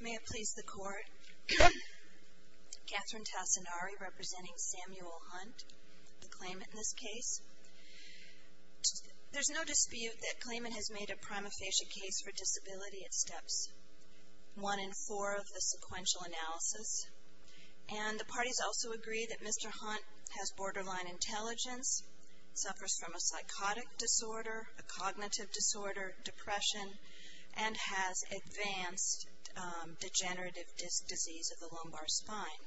May it please the Court, Kathryn Tassinari representing Samuel Hunt, the claimant in this case. There is no dispute that the claimant has made a prima facie case for disability at steps 1 and 4 of the sequential analysis, and the parties also agree that Mr. Hunt has a psychotic disorder, a cognitive disorder, depression, and has advanced degenerative disc disease of the lumbar spine.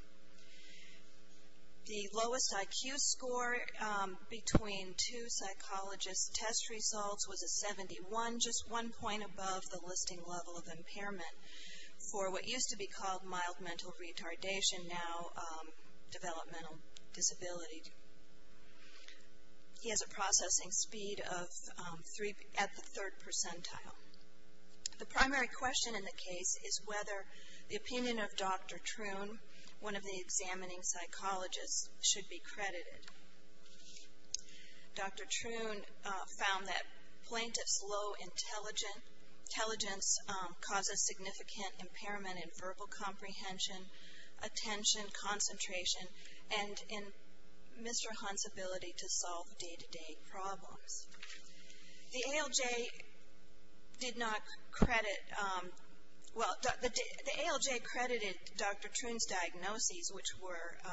The lowest IQ score between two psychologists' test results was a 71, just one point above the listing level of impairment for what used to be called processing speed at the third percentile. The primary question in the case is whether the opinion of Dr. Troon, one of the examining psychologists, should be credited. Dr. Troon found that plaintiff's low intelligence causes significant impairment in verbal comprehension, attention, concentration, and in Mr. Hunt's ability to solve day-to-day problems. The ALJ did not credit, well, the ALJ credited Dr. Troon's diagnoses, which were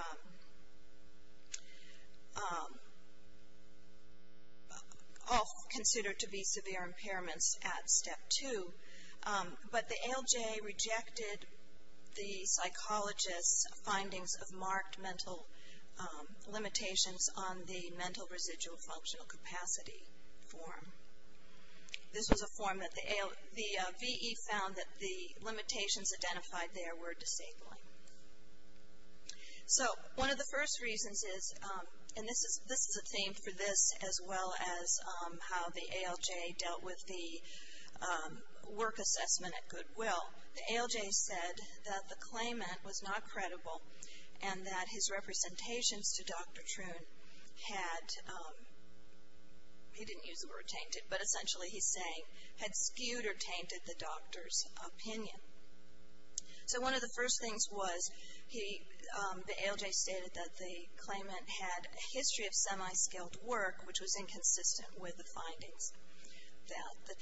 all considered to be severe impairments at step 2, but the ALJ rejected the psychologist's findings of marked mental limitations on the Mental Residual Functional Capacity form. This was a form that the VE found that the limitations identified there were disabling. So, one of the first reasons is, and this is a theme for this as well as how the ALJ dealt with the work assessment at Goodwill, the ALJ said that the claimant was not credible and that his representations to Dr. Troon had, he didn't use the word tainted, but essentially he's saying had skewed or tainted the doctor's opinion. So, one of the first things was, he, the ALJ stated that the claimant had a history of semi-skilled work, which was inconsistent with the findings that the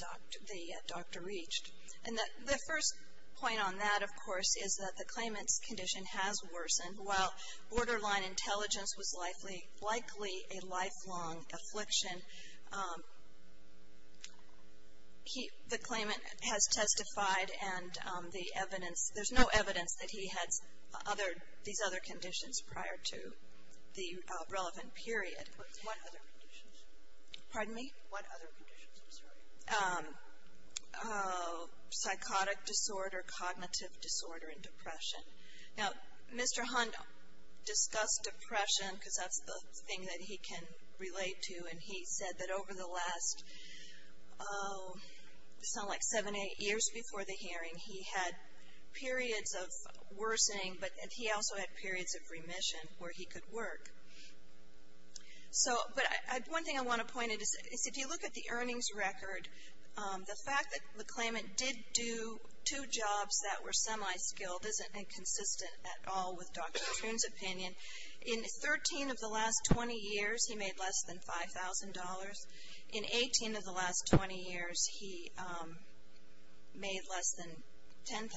doctor reached. And the first point on that, of course, is that the claimant's condition has worsened. While borderline intelligence was likely a lifelong affliction, he, the claimant has testified and the evidence, there's no evidence that he had other, these other conditions prior to the relevant period. What other conditions? Pardon me? What other conditions? I'm sorry. Psychotic disorder, cognitive disorder, and depression. Now, Mr. Hondo discussed depression because that's the thing that he can relate to, and he said that over the last, it sounded like seven, eight years before the hearing, he had periods of worsening, but he also had periods of remission where he could work. So, but one thing I want to point out is, if you look at the earnings record, the fact that the claimant did do two jobs that were semi-skilled isn't inconsistent at all with Dr. Troon's opinion. In 13 of the last 20 years, he made less than $5,000. In 18 of the last 20 years, he made less than $10,000.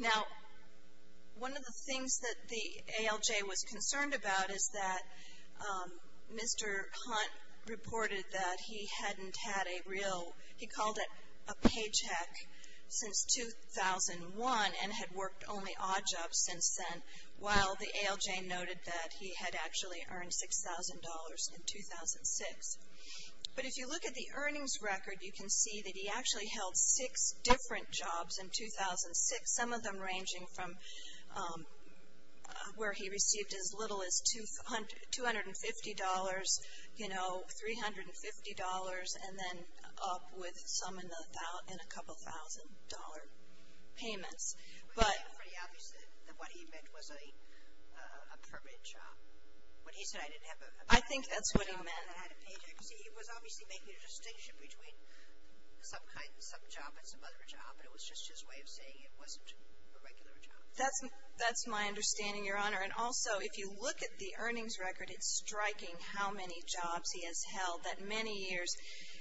Now, one of the things that the ALJ was concerned about is that Mr. Hunt reported that he hadn't had a real, he called it a paycheck since 2001 and had worked only odd jobs since then, while the ALJ noted that he had actually earned $6,000 in 2006. But if you look at the earnings record, you can see that he actually held six different jobs in 2006, some of them ranging from where he received as little as $250, you know, $350, and then up with some in a couple thousand dollar payments. It's pretty obvious that what he meant was a permanent job. When he said I didn't have a permanent job, I had a paycheck. I think that's what he meant. See, he was obviously making a distinction between some job and some other job, but it was just his way of saying it wasn't a regular job. That's my understanding, Your Honor. And also, if you look at the earnings record, it's striking how many jobs he has held. That many years,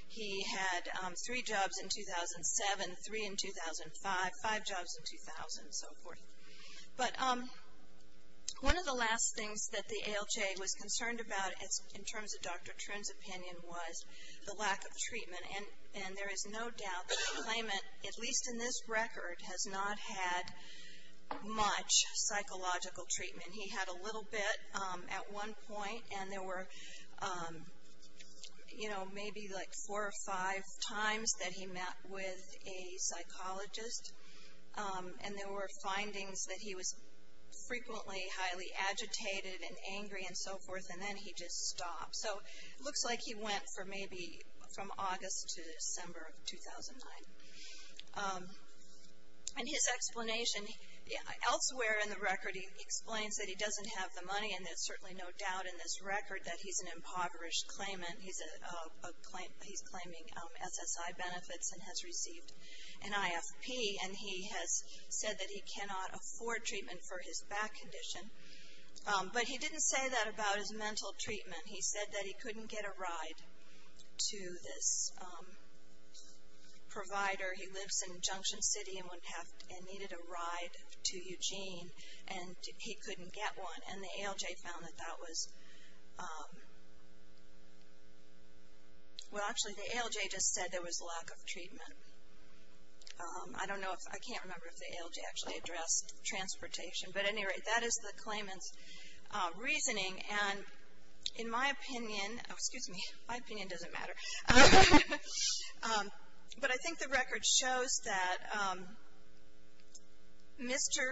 he had three jobs in 2007, three in 2005, five jobs in 2000, and so forth. But one of the last things that the ALJ was concerned about, in terms of Dr. Trinh's opinion, was the lack of treatment, and there is no doubt that the claimant, at least in this record, has not had much psychological treatment. And he had a little bit at one point, and there were, you know, maybe like four or five times that he met with a psychologist. And there were findings that he was frequently highly agitated and angry and so forth, and then he just stopped. So it looks like he went for maybe from August to December of 2009. And his explanation, elsewhere in the record, he explains that he doesn't have the money, and there's certainly no doubt in this record that he's an impoverished claimant. He's claiming SSI benefits and has received an IFP, and he has said that he cannot afford treatment for his back condition. But he didn't say that about his mental treatment. He said that he couldn't get a ride to this provider. He lives in Junction City and needed a ride to Eugene, and he couldn't get one. And the ALJ found that that was, well, actually the ALJ just said there was lack of treatment. I don't know if, I can't remember if the ALJ actually addressed transportation. But at any rate, that is the claimant's reasoning. And in my opinion, excuse me, my opinion doesn't matter. But I think the record shows that Mr.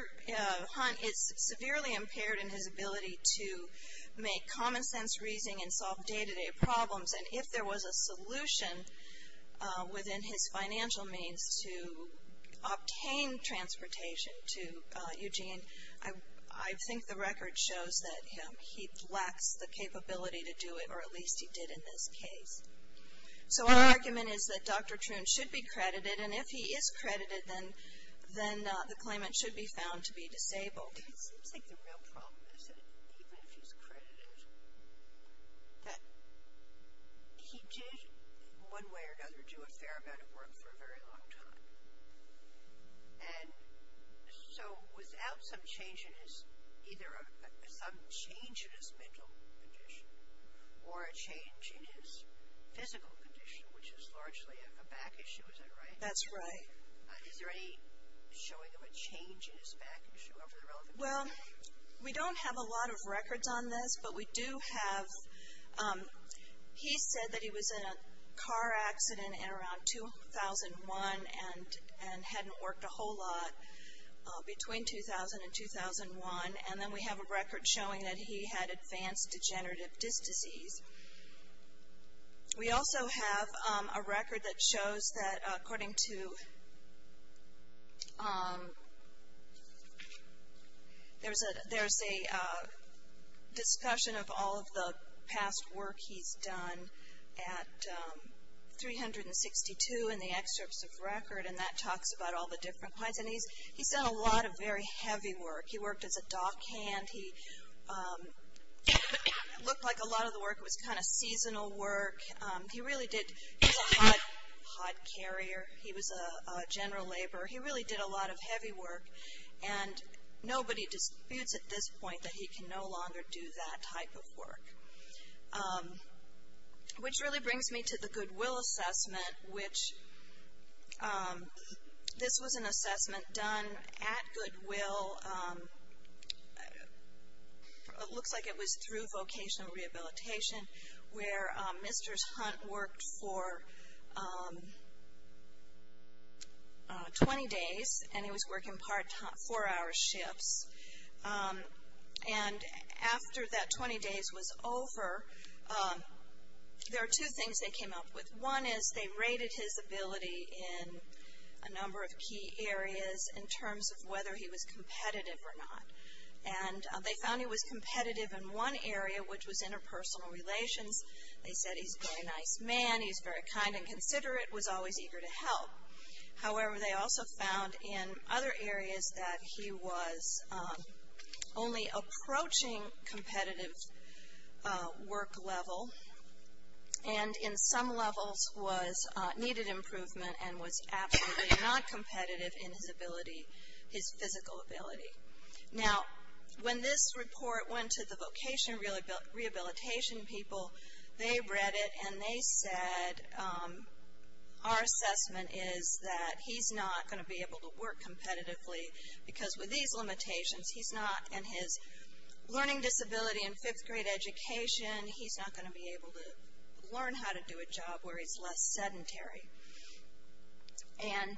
Hunt is severely impaired in his ability to make common sense reasoning and solve day-to-day problems. And if there was a solution within his financial means to obtain transportation to Eugene, I think the record shows that he lacks the capability to do it, or at least he did in this case. So our argument is that Dr. Troon should be credited. And if he is credited, then the claimant should be found to be disabled. It seems like the real problem is that even if he's credited, that he did, in one way or another, do a fair amount of work for a very long time. And so without some change in his, either some change in his mental condition or a change in his physical condition, which is largely a back issue, is that right? That's right. Is there any showing of a change in his back issue? Well, we don't have a lot of records on this. But we do have, he said that he was in a car accident in around 2001 and hadn't worked a whole lot between 2000 and 2001. And then we have a record showing that he had advanced degenerative disc disease. We also have a record that shows that according to, there's a discussion of all of the past work he's done at 362 in the excerpts of record. And that talks about all the different points. And he's done a lot of very heavy work. He worked as a dock hand. He looked like a lot of the work was kind of seasonal work. He really did, he was a hot carrier. He was a general laborer. He really did a lot of heavy work. And nobody disputes at this point that he can no longer do that type of work. Which really brings me to the Goodwill assessment, which, this was an assessment done at Goodwill, it looks like it was through Vocational Rehabilitation, where Mr. Hunt worked for 20 days. And he was working part-time, four-hour shifts. And after that 20 days was over, there are two things they came up with. One is they rated his ability in a number of key areas in terms of whether he was competitive or not. And they found he was competitive in one area, which was interpersonal relations. They said he's a very nice man, he's very kind and considerate, was always eager to help. However, they also found in other areas that he was only approaching competitive work level. And in some levels was, needed improvement and was absolutely not competitive in his ability, his physical ability. Now, when this report went to the Vocational Rehabilitation people, they read it and they said our assessment is that he's not going to be able to work competitively. Because with these limitations, he's not in his learning disability in fifth grade education, he's not going to be able to learn how to do a job where he's less sedentary. And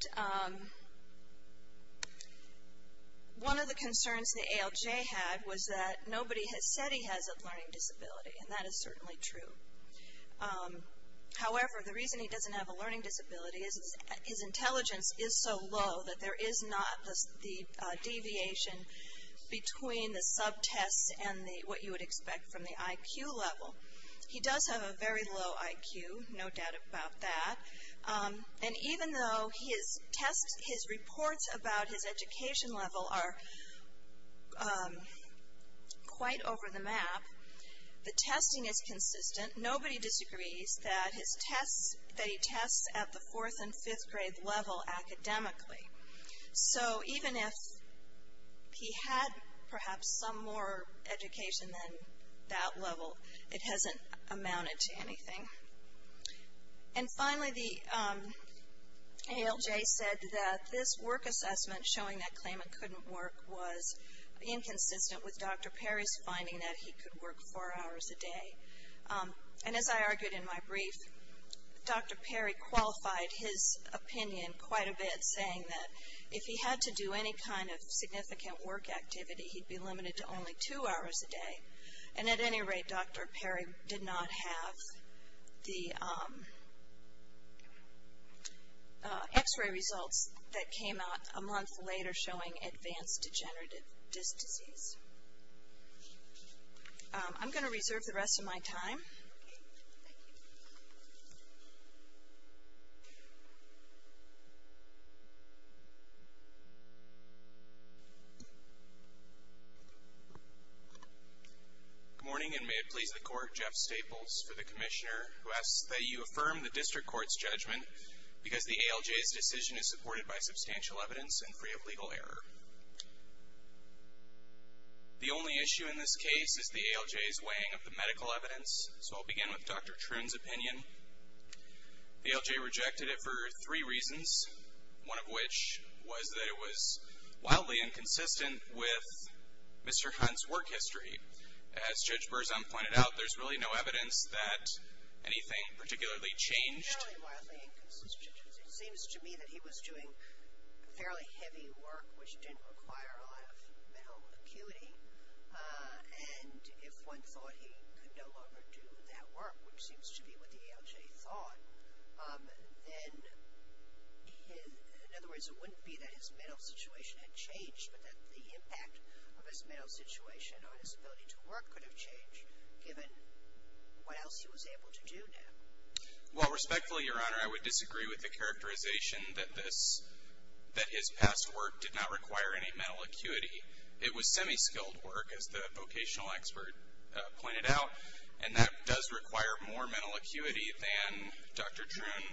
one of the concerns the ALJ had was that nobody has said he has a learning disability. And that is certainly true. However, the reason he doesn't have a learning disability is his intelligence is so low that there is not the deviation between the subtests and what you would expect from the IQ level. He does have a very low IQ, no doubt about that. And even though his tests, his reports about his education level are quite over the map, the testing is consistent. Nobody disagrees that his tests, that he tests at the fourth and fifth grade level academically. So even if he had perhaps some more education than that level, it hasn't amounted to anything. And finally, the ALJ said that this work assessment showing that Clayman couldn't work was inconsistent with Dr. Perry's finding that he could work four hours a day. And as I argued in my brief, Dr. Perry qualified his opinion quite a bit saying that if he had to do any kind of significant work activity, he'd be limited to only two hours a day. And at any rate, Dr. Perry did not have the X-ray results that came out a month later showing advanced degenerative disc disease. I'm going to reserve the rest of my time. Thank you. Good morning and may it please the court, Jeff Staples for the commissioner who asks that you affirm the district court's judgment because the ALJ's decision is supported by substantial evidence and free of legal error. The only issue in this case is the ALJ's weighing of the medical evidence. So I'll begin with Dr. Troon's opinion. The ALJ rejected it for three reasons, one of which was that it was wildly inconsistent with Mr. Hunt's work history. As Judge Berzon pointed out, there's really no evidence that anything particularly changed. Fairly wildly inconsistent, it seems to me that he was doing fairly heavy work which didn't require a lot of mental acuity. And if one thought he could no longer do that work, which seems to be what the ALJ thought, then in other words, it wouldn't be that his mental situation had changed, but that the impact of his mental situation on his ability to work could have changed, given what else he was able to do now. Well, respectfully, Your Honor, I would disagree with the characterization that this, that his past work did not require any mental acuity. It was semi-skilled work, as the vocational expert pointed out, and that does require more mental acuity than Dr. Troon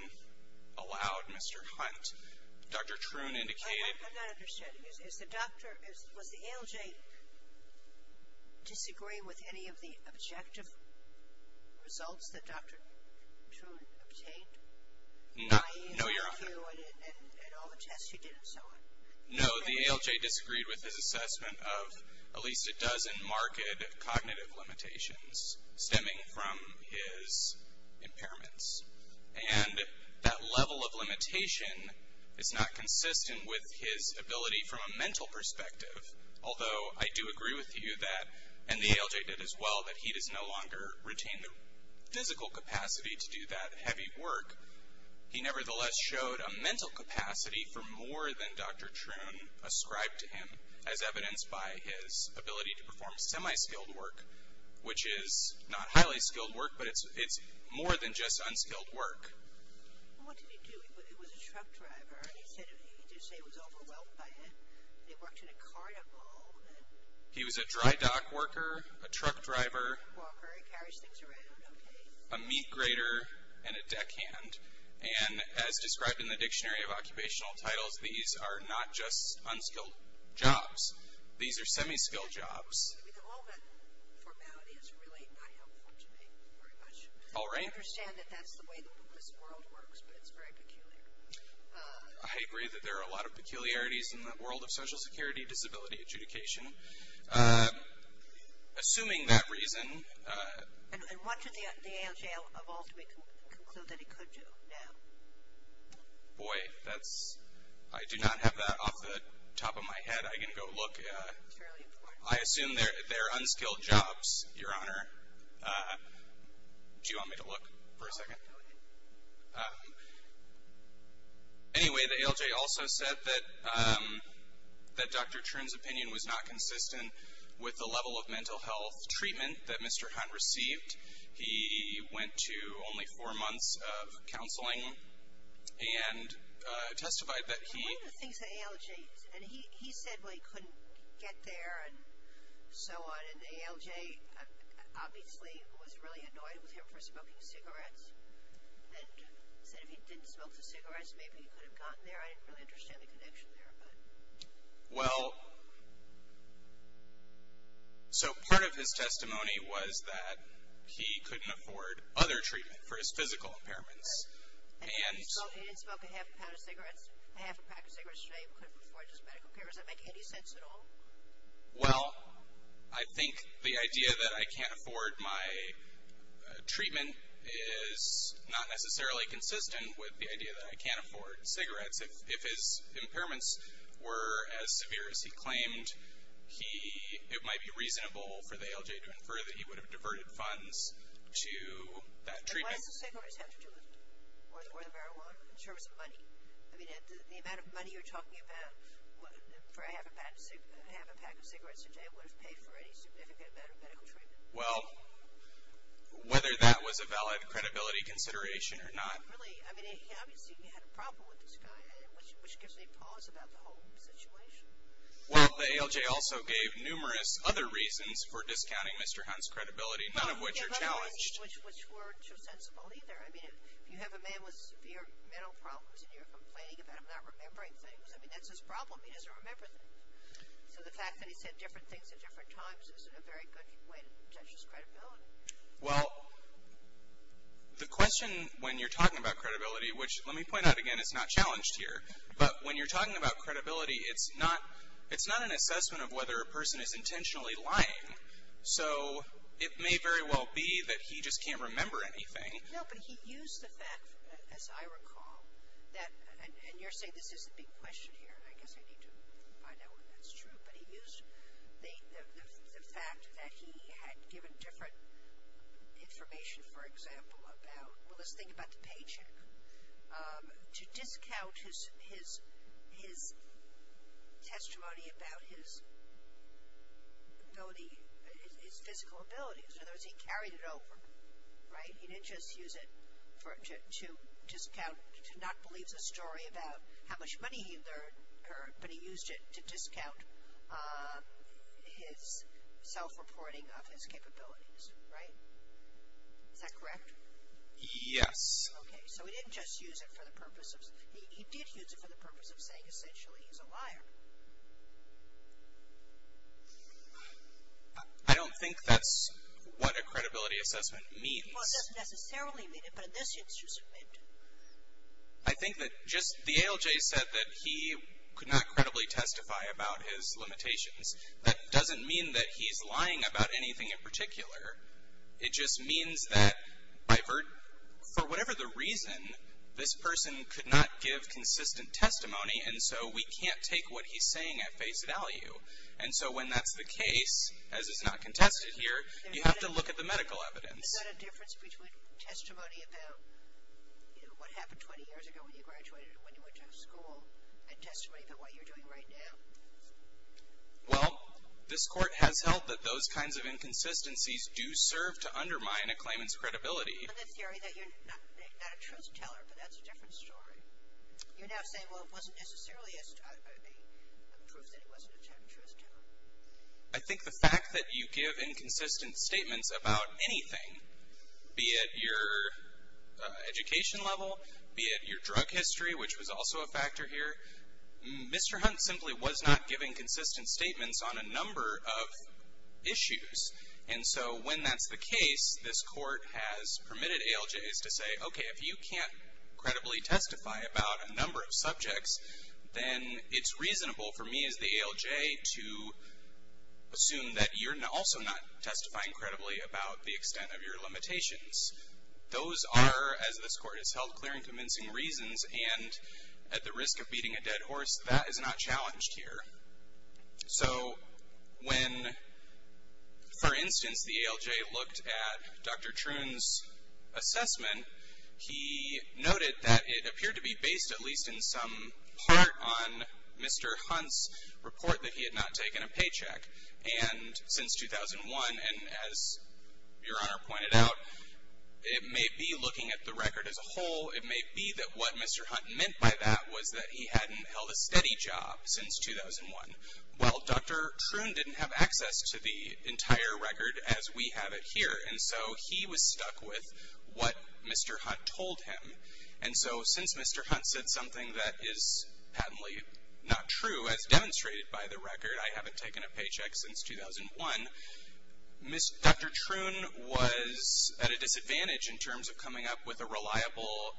allowed Mr. Hunt. Dr. Troon indicated I'm not understanding. Is the doctor, was the ALJ disagree with any of the objective results that Dr. Troon obtained? No, Your Honor. By you and all the tests you did and so on? No, the ALJ disagreed with his assessment of at least a dozen marked cognitive limitations stemming from his impairments. And that level of limitation is not consistent with his ability from a mental perspective, although I do agree with you that, and the ALJ did as well, that he does no longer retain the physical capacity to do that heavy work. He nevertheless showed a mental capacity for more than Dr. Troon ascribed to him, as evidenced by his ability to perform semi-skilled work, which is not highly skilled work, but it's more than just unskilled work. Well, what did he do? He was a truck driver. He said he was overwhelmed by it. He worked in a carnival. He was a dry dock worker, a truck driver, a meat grater, and a deckhand. And as described in the Dictionary of Occupational Titles, these are not just unskilled jobs. These are semi-skilled jobs. I mean, all that formality is really not helpful to me very much. All right. I understand that that's the way the publicist world works, but it's very peculiar. I agree that there are a lot of peculiarities in the world of Social Security disability adjudication. Assuming that reason. And what did the ALJ of all to conclude that he could do now? Boy, that's, I do not have that off the top of my head. I can go look. Fairly important. I assume they're unskilled jobs, Your Honor. Do you want me to look for a second? Anyway, the ALJ also said that Dr. Chern's opinion was not consistent with the level of mental health treatment that Mr. Hunt received. He went to only four months of counseling and testified that he... So the ALJ obviously was really annoyed with him for smoking cigarettes and said if he didn't smoke the cigarettes, maybe he could have gotten there. I didn't really understand the connection there, but... Well... So part of his testimony was that he couldn't afford other treatment for his physical impairments. And he didn't smoke a half a pound of cigarettes, a half a pack of cigarettes a day, he couldn't afford just medical care. Does that make any sense at all? Well, I think the idea that I can't afford my treatment is not necessarily consistent with the idea that I can't afford cigarettes. If his impairments were as severe as he claimed, it might be reasonable for the ALJ to infer that he would have diverted funds to that treatment. But why does a cigarette attest to it? Or the marijuana, in terms of money? I mean, the amount of money you're talking about, for a half a pack of cigarettes a day, would have paid for any significant amount of medical treatment. Well, whether that was a valid credibility consideration or not... Really, I mean, obviously he had a problem with this guy, which gives me pause about the whole situation. Well, the ALJ also gave numerous other reasons for discounting Mr. Hunt's credibility, none of which are challenged. Which weren't so sensible either. I mean, if you have a man with severe mental problems and you're complaining about him not remembering things, I mean, that's his problem. He doesn't remember things. So the fact that he said different things at different times isn't a very good way to judge his credibility. Well, the question when you're talking about credibility, which, let me point out again, is not challenged here. But when you're talking about credibility, it's not an assessment of whether a person is intentionally lying. So it may very well be that he just can't remember anything. No, but he used the fact, as I recall, and you're saying this isn't being questioned here, and I guess I need to find out whether that's true, but he used the fact that he had given different information, for example, about, well, let's think about the paycheck, to discount his testimony about his ability, his physical abilities. In other words, he carried it over, right? He didn't just use it to discount, to not believe the story about how much money he had earned, but he used it to discount his self-reporting of his capabilities, right? Is that correct? Yes. Okay, so he didn't just use it for the purpose of, he did use it for the purpose of saying essentially he's a liar. I don't think that's what a credibility assessment means. Well, it doesn't necessarily mean it, but in this instance it did. I think that just the ALJ said that he could not credibly testify about his limitations. That doesn't mean that he's lying about anything in particular. It just means that for whatever the reason, this person could not give consistent testimony, and so we can't take what he's saying at face value. And so when that's the case, as is not contested here, you have to look at the medical evidence. Is that a difference between testimony about what happened 20 years ago when you graduated and when you went to school and testimony about what you're doing right now? Well, this court has held that those kinds of inconsistencies do serve to undermine a claimant's credibility. On the theory that you're not a truth teller, but that's a different story. You're now saying, well, it wasn't necessarily a proof that he wasn't a true truth teller. I think the fact that you give inconsistent statements about anything, be it your education level, be it your drug history, which was also a factor here, Mr. Hunt simply was not giving consistent statements on a number of issues. And so when that's the case, this court has permitted ALJs to say, okay, if you can't credibly testify about a number of subjects, then it's reasonable for me as the ALJ to assume that you're also not testifying credibly about the extent of your limitations. Those are, as this court has held, clear and convincing reasons and at the risk of beating a dead horse, that is not challenged here. So when, for instance, the ALJ looked at Dr. Troon's assessment, he noted that it appeared to be based at least in some part on Mr. Hunt's report that he had not taken a paycheck. And since 2001, and as Your Honor pointed out, it may be looking at the record as a whole, it may be that what Mr. Hunt meant by that was that he hadn't held a steady job since 2001. Well, Dr. Troon didn't have access to the entire record as we have it here, and so he was stuck with what Mr. Hunt told him. And so since Mr. Hunt said something that is patently not true, as demonstrated by the record, I haven't taken a paycheck since 2001, Dr. Troon was at a disadvantage in terms of coming up with a reliable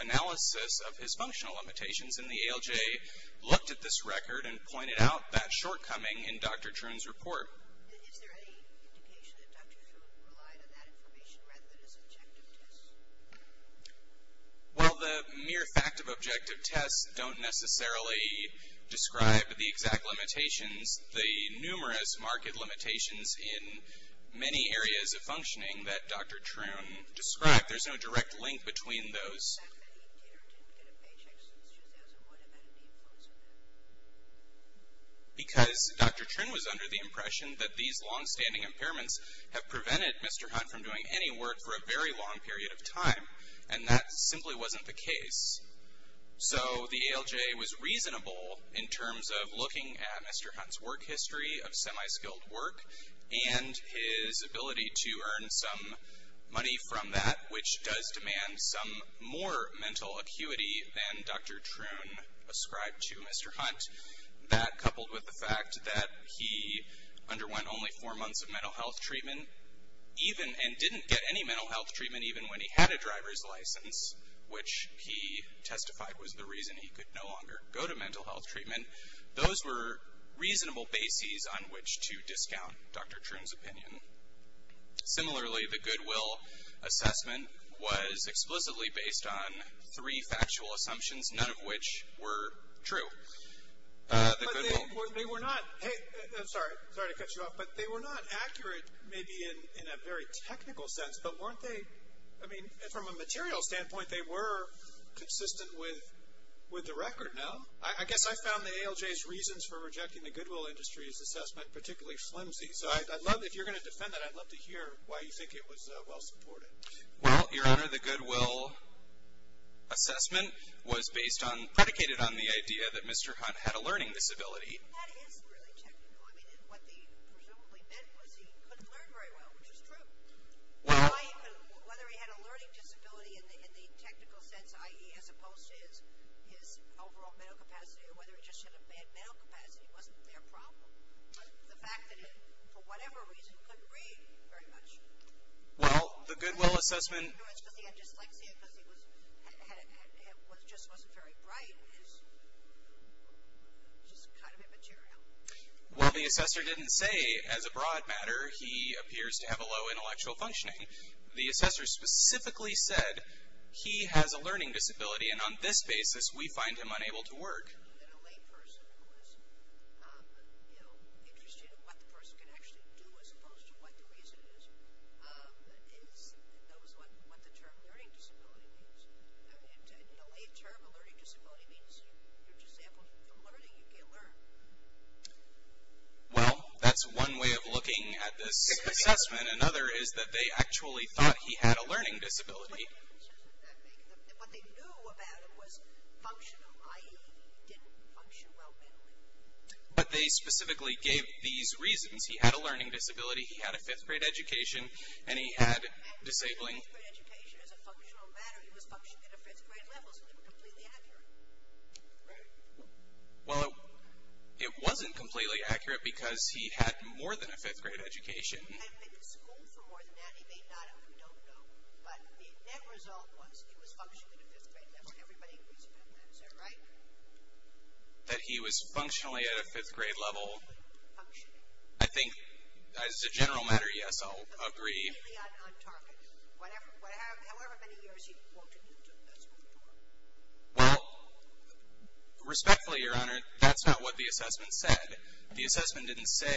analysis of his functional limitations, and the ALJ looked at this record and pointed out that shortcoming in Dr. Troon's report. Is there any indication that Dr. Troon relied on that information rather than his objective tests? Well, the mere fact of objective tests don't necessarily describe the exact limitations. The numerous market limitations in many areas of functioning that Dr. Troon described, there's no direct link between those. The fact that he did or didn't get a paycheck since 2001, have had any influence on that? Because Dr. Troon was under the impression that these long-standing impairments have prevented Mr. Hunt from doing any work for a very long period of time, and that simply wasn't the case. So the ALJ was reasonable in terms of looking at Mr. Hunt's work history of semi-skilled work and his ability to earn some money from that, which does demand some more mental acuity than Dr. Troon ascribed to Mr. Hunt. That, coupled with the fact that he underwent only four months of mental health treatment, and didn't get any mental health treatment even when he had a driver's license, which he testified was the reason he could no longer go to mental health treatment, those were reasonable bases on which to discount Dr. Troon's opinion. Similarly, the Goodwill assessment was explicitly based on three factual assumptions, none of which were true. They were not, hey, I'm sorry, sorry to cut you off, but they were not accurate, maybe in a very technical sense, but weren't they, I mean, from a material standpoint, they were consistent with the record, no? I guess I found the ALJ's reasons for rejecting the Goodwill industry's assessment particularly flimsy. So I'd love, if you're going to defend that, I'd love to hear why you think it was well supported. Well, Your Honor, the Goodwill assessment was based on, predicated on the idea that Mr. Hunt had a learning disability. Well, that is really technical. I mean, what they presumably meant was he couldn't learn very well, which is true. Why even, whether he had a learning disability in the technical sense, i.e. as opposed to his overall mental capacity, or whether he just had a bad mental capacity wasn't their problem. The fact that he, for whatever reason, couldn't read very much. Well, the Goodwill assessment... No, it's because he had dyslexia, because he just wasn't very bright, just kind of immaterial. Well, the assessor didn't say, as a broad matter, he appears to have a low intellectual functioning. The assessor specifically said, he has a learning disability, and on this basis, we find him unable to work. And a layperson who is interested in what the person can actually do, as opposed to what the reason is, knows what the term learning disability means. In a lay term, a learning disability means, you're disabled from learning, you can't learn. Well, that's one way of looking at this assessment. Another is that they actually thought he had a learning disability. What differences did that make? What they knew about him was functional, i.e. he didn't function well mentally. But they specifically gave these reasons. He had a learning disability, he had a 5th grade education, and he had disabling... As a functional matter, he was functioning at a 5th grade level, so they were completely accurate, right? Well, it wasn't completely accurate, because he had more than a 5th grade education. He had been to school for more than that, he may not have, we don't know. But the net result was, he was functioning at a 5th grade level. Everybody agrees with that, is that right? That he was functionally at a 5th grade level? Functionally. I think, as a general matter, yes, I'll agree. Completely on target. However many years he worked at the school for. Well, respectfully, Your Honor, that's not what the assessment said. The assessment didn't say,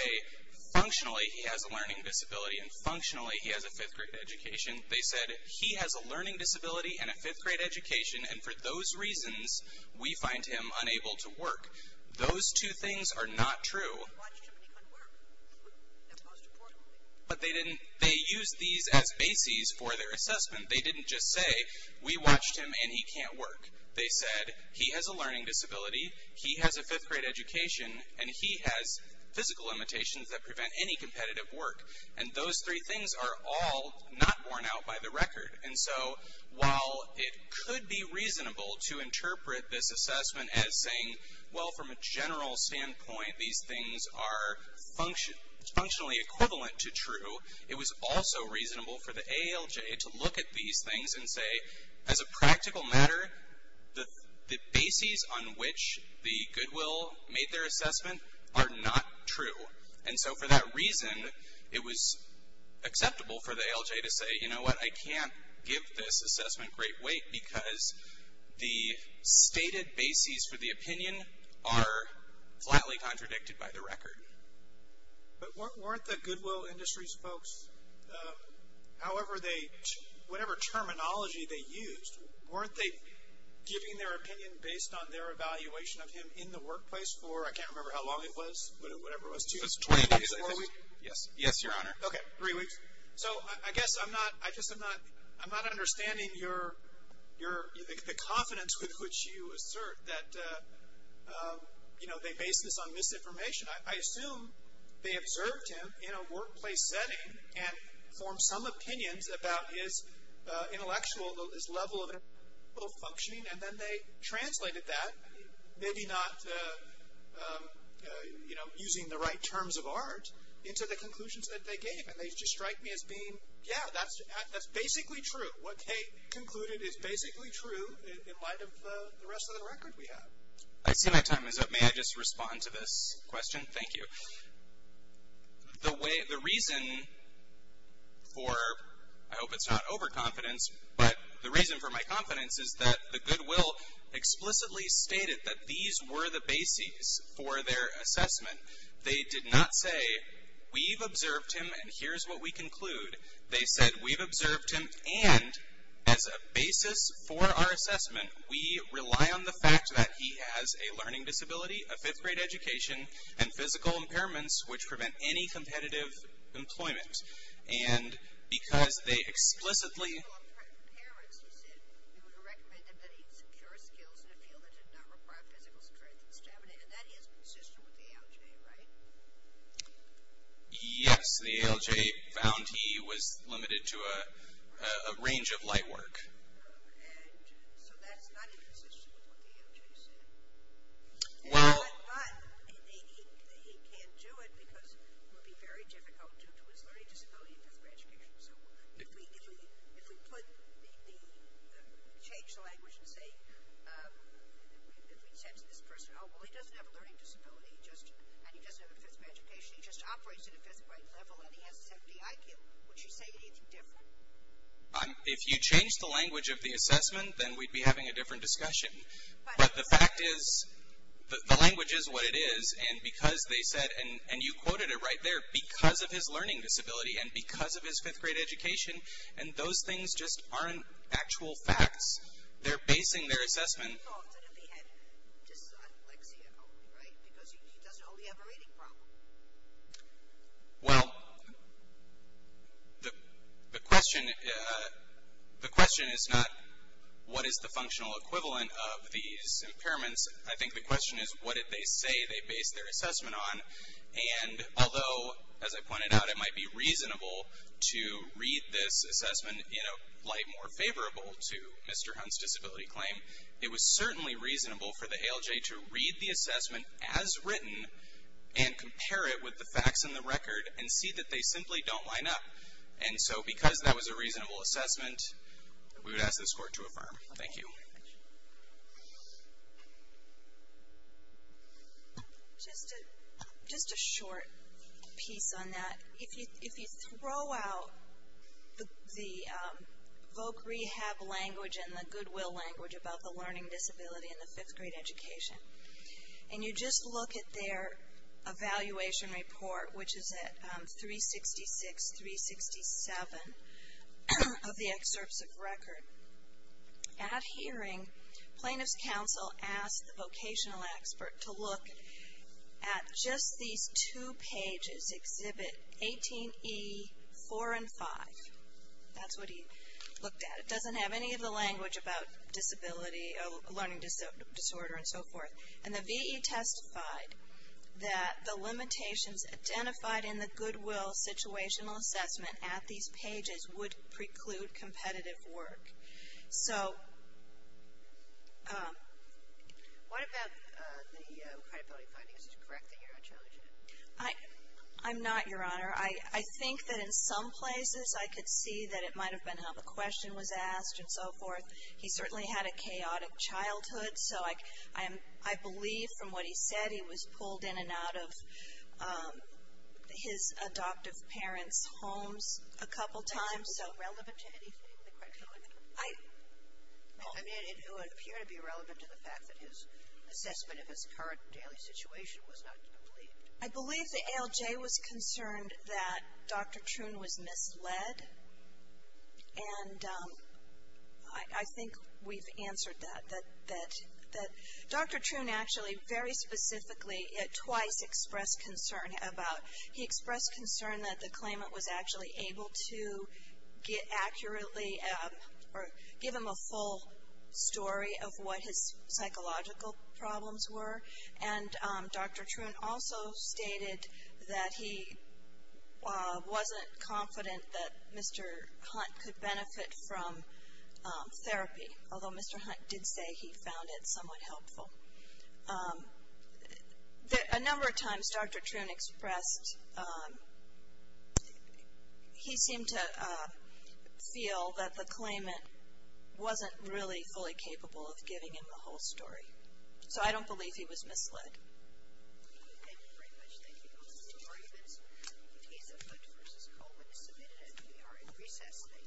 functionally, he has a learning disability, and functionally, he has a 5th grade education. They said, he has a learning disability, and a 5th grade education, and for those reasons, we find him unable to work. Those two things are not true. They watched him, and he couldn't work. That's most important. But they used these as bases for their assessment. They didn't just say, we watched him, and he can't work. They said, he has a learning disability, he has a 5th grade education, and he has physical limitations that prevent any competitive work. And those three things are all not worn out by the record. And so, while it could be reasonable to interpret this assessment as saying, well, from a general standpoint, these things are functionally equivalent to true, it was also reasonable for the AALJ to look at these things and say, as a practical matter, the bases on which the Goodwill made their assessment are not true. And so, for that reason, it was acceptable for the AALJ to say, you know what, I can't give this assessment great weight, because the stated bases for the opinion are flatly contradicted by the record. But weren't the Goodwill Industries folks, however they, whatever terminology they used, weren't they giving their opinion based on their evaluation of him in the workplace for, I can't remember how long it was, whatever it was, two, three, four weeks? Yes, your honor. Okay, three weeks. So, I guess I'm not, I just am not, I'm not understanding your, the confidence with which you assert that, you know, they base this on misinformation. I assume they observed him in a workplace setting and formed some opinions about his intellectual, his level of functioning, and then they translated that, maybe not, you know, using the right terms of art, into the conclusions that they gave. And they just strike me as being, yeah, that's basically true. What Kate concluded is basically true in light of the rest of the record we have. I see my time is up. May I just respond to this question? Thank you. The way, the reason for, I hope it's not overconfidence, but the reason for my confidence is that the Goodwill explicitly stated that these were the bases for their assessment. They did not say, we've observed him and here's what we conclude. They said, we've observed him and as a basis for our assessment, we rely on the fact that he has a learning disability, a fifth grade education, and physical impairments, which prevent any competitive employment. And because they explicitly, physical impairments, he said, we would recommend that he secure skills in a field that did not require physical strength and stamina, and that is consistent with the ALJ, right? Yes, the ALJ found he was limited to a range of light work. And so that's not inconsistent with what the ALJ said? Well, But he can't do it because it would be very difficult due to his learning disability and his education. If we change the language and say, if we said to this person, oh, well, he doesn't have a learning disability and he doesn't have a fifth grade education, he just operates at a fifth grade level and he has a 70 IQ, would you say anything different? If you change the language of the assessment, then we'd be having a different discussion. But the fact is, the language is what it is and because they said, and you quoted it right there, because of his learning disability and because of his fifth grade education, and those things just aren't actual facts. They're basing their assessment on dyslexia, right? Because he doesn't really have a reading problem. Well, the question is not what is the functional equivalent of these impairments? I think the question is what did they say they based their assessment on? And although, as I pointed out, it might be reasonable to read this assessment in a light more favorable to Mr. Hunt's disability claim, it was certainly reasonable for the ALJ to read the assessment as written and compare it with the facts in the record and see that they simply don't line up. And so, because that was a reasonable assessment, we would ask this court to affirm. Thank you. Just a short piece on that. If you throw out the voc rehab language and the goodwill language about the learning disability and the fifth grade education and you just look at their evaluation report, which is at 366-367 of the excerpts of record, at hearing, plaintiff's counsel asked the vocational expert to look at just these two pages exhibit 18E, 4 and 5. That's what he looked at. It doesn't have any of the language about disability, learning disorder, and so forth. And the V.E. testified that the limitations identified in the goodwill situational assessment at these pages would preclude competitive work. So... What about the credibility findings? Is it correct that you're not challenging it? I'm not, Your Honor. I think that in some places I could see that it might have been how the question was asked and so forth. He certainly had a chaotic childhood, so I believe from what he said he was pulled in and out of his adoptive parents' homes a couple times, so... Would that be relevant to anything? I mean, it would appear to be relevant to the fact that his assessment of his current daily situation was not complete. I believe the ALJ was concerned that Dr. Troon was misled, and I think we've answered that. Dr. Troon actually very specifically twice expressed concern about... He expressed concern that the claimant was actually able to get accurately or give him a full story of what his psychological problems were, and Dr. Troon also stated that he wasn't confident that Mr. Hunt could benefit from therapy, although Mr. Hunt did say he found it somewhat helpful. A number of times Dr. Troon expressed... He seemed to feel that the claimant wasn't really fully capable of giving him the whole story, so I don't believe he was misled. Thank you very much. Thank you. Those are our arguments. Case of Hunt v. Coleman is submitted and we are in recess. Thank you.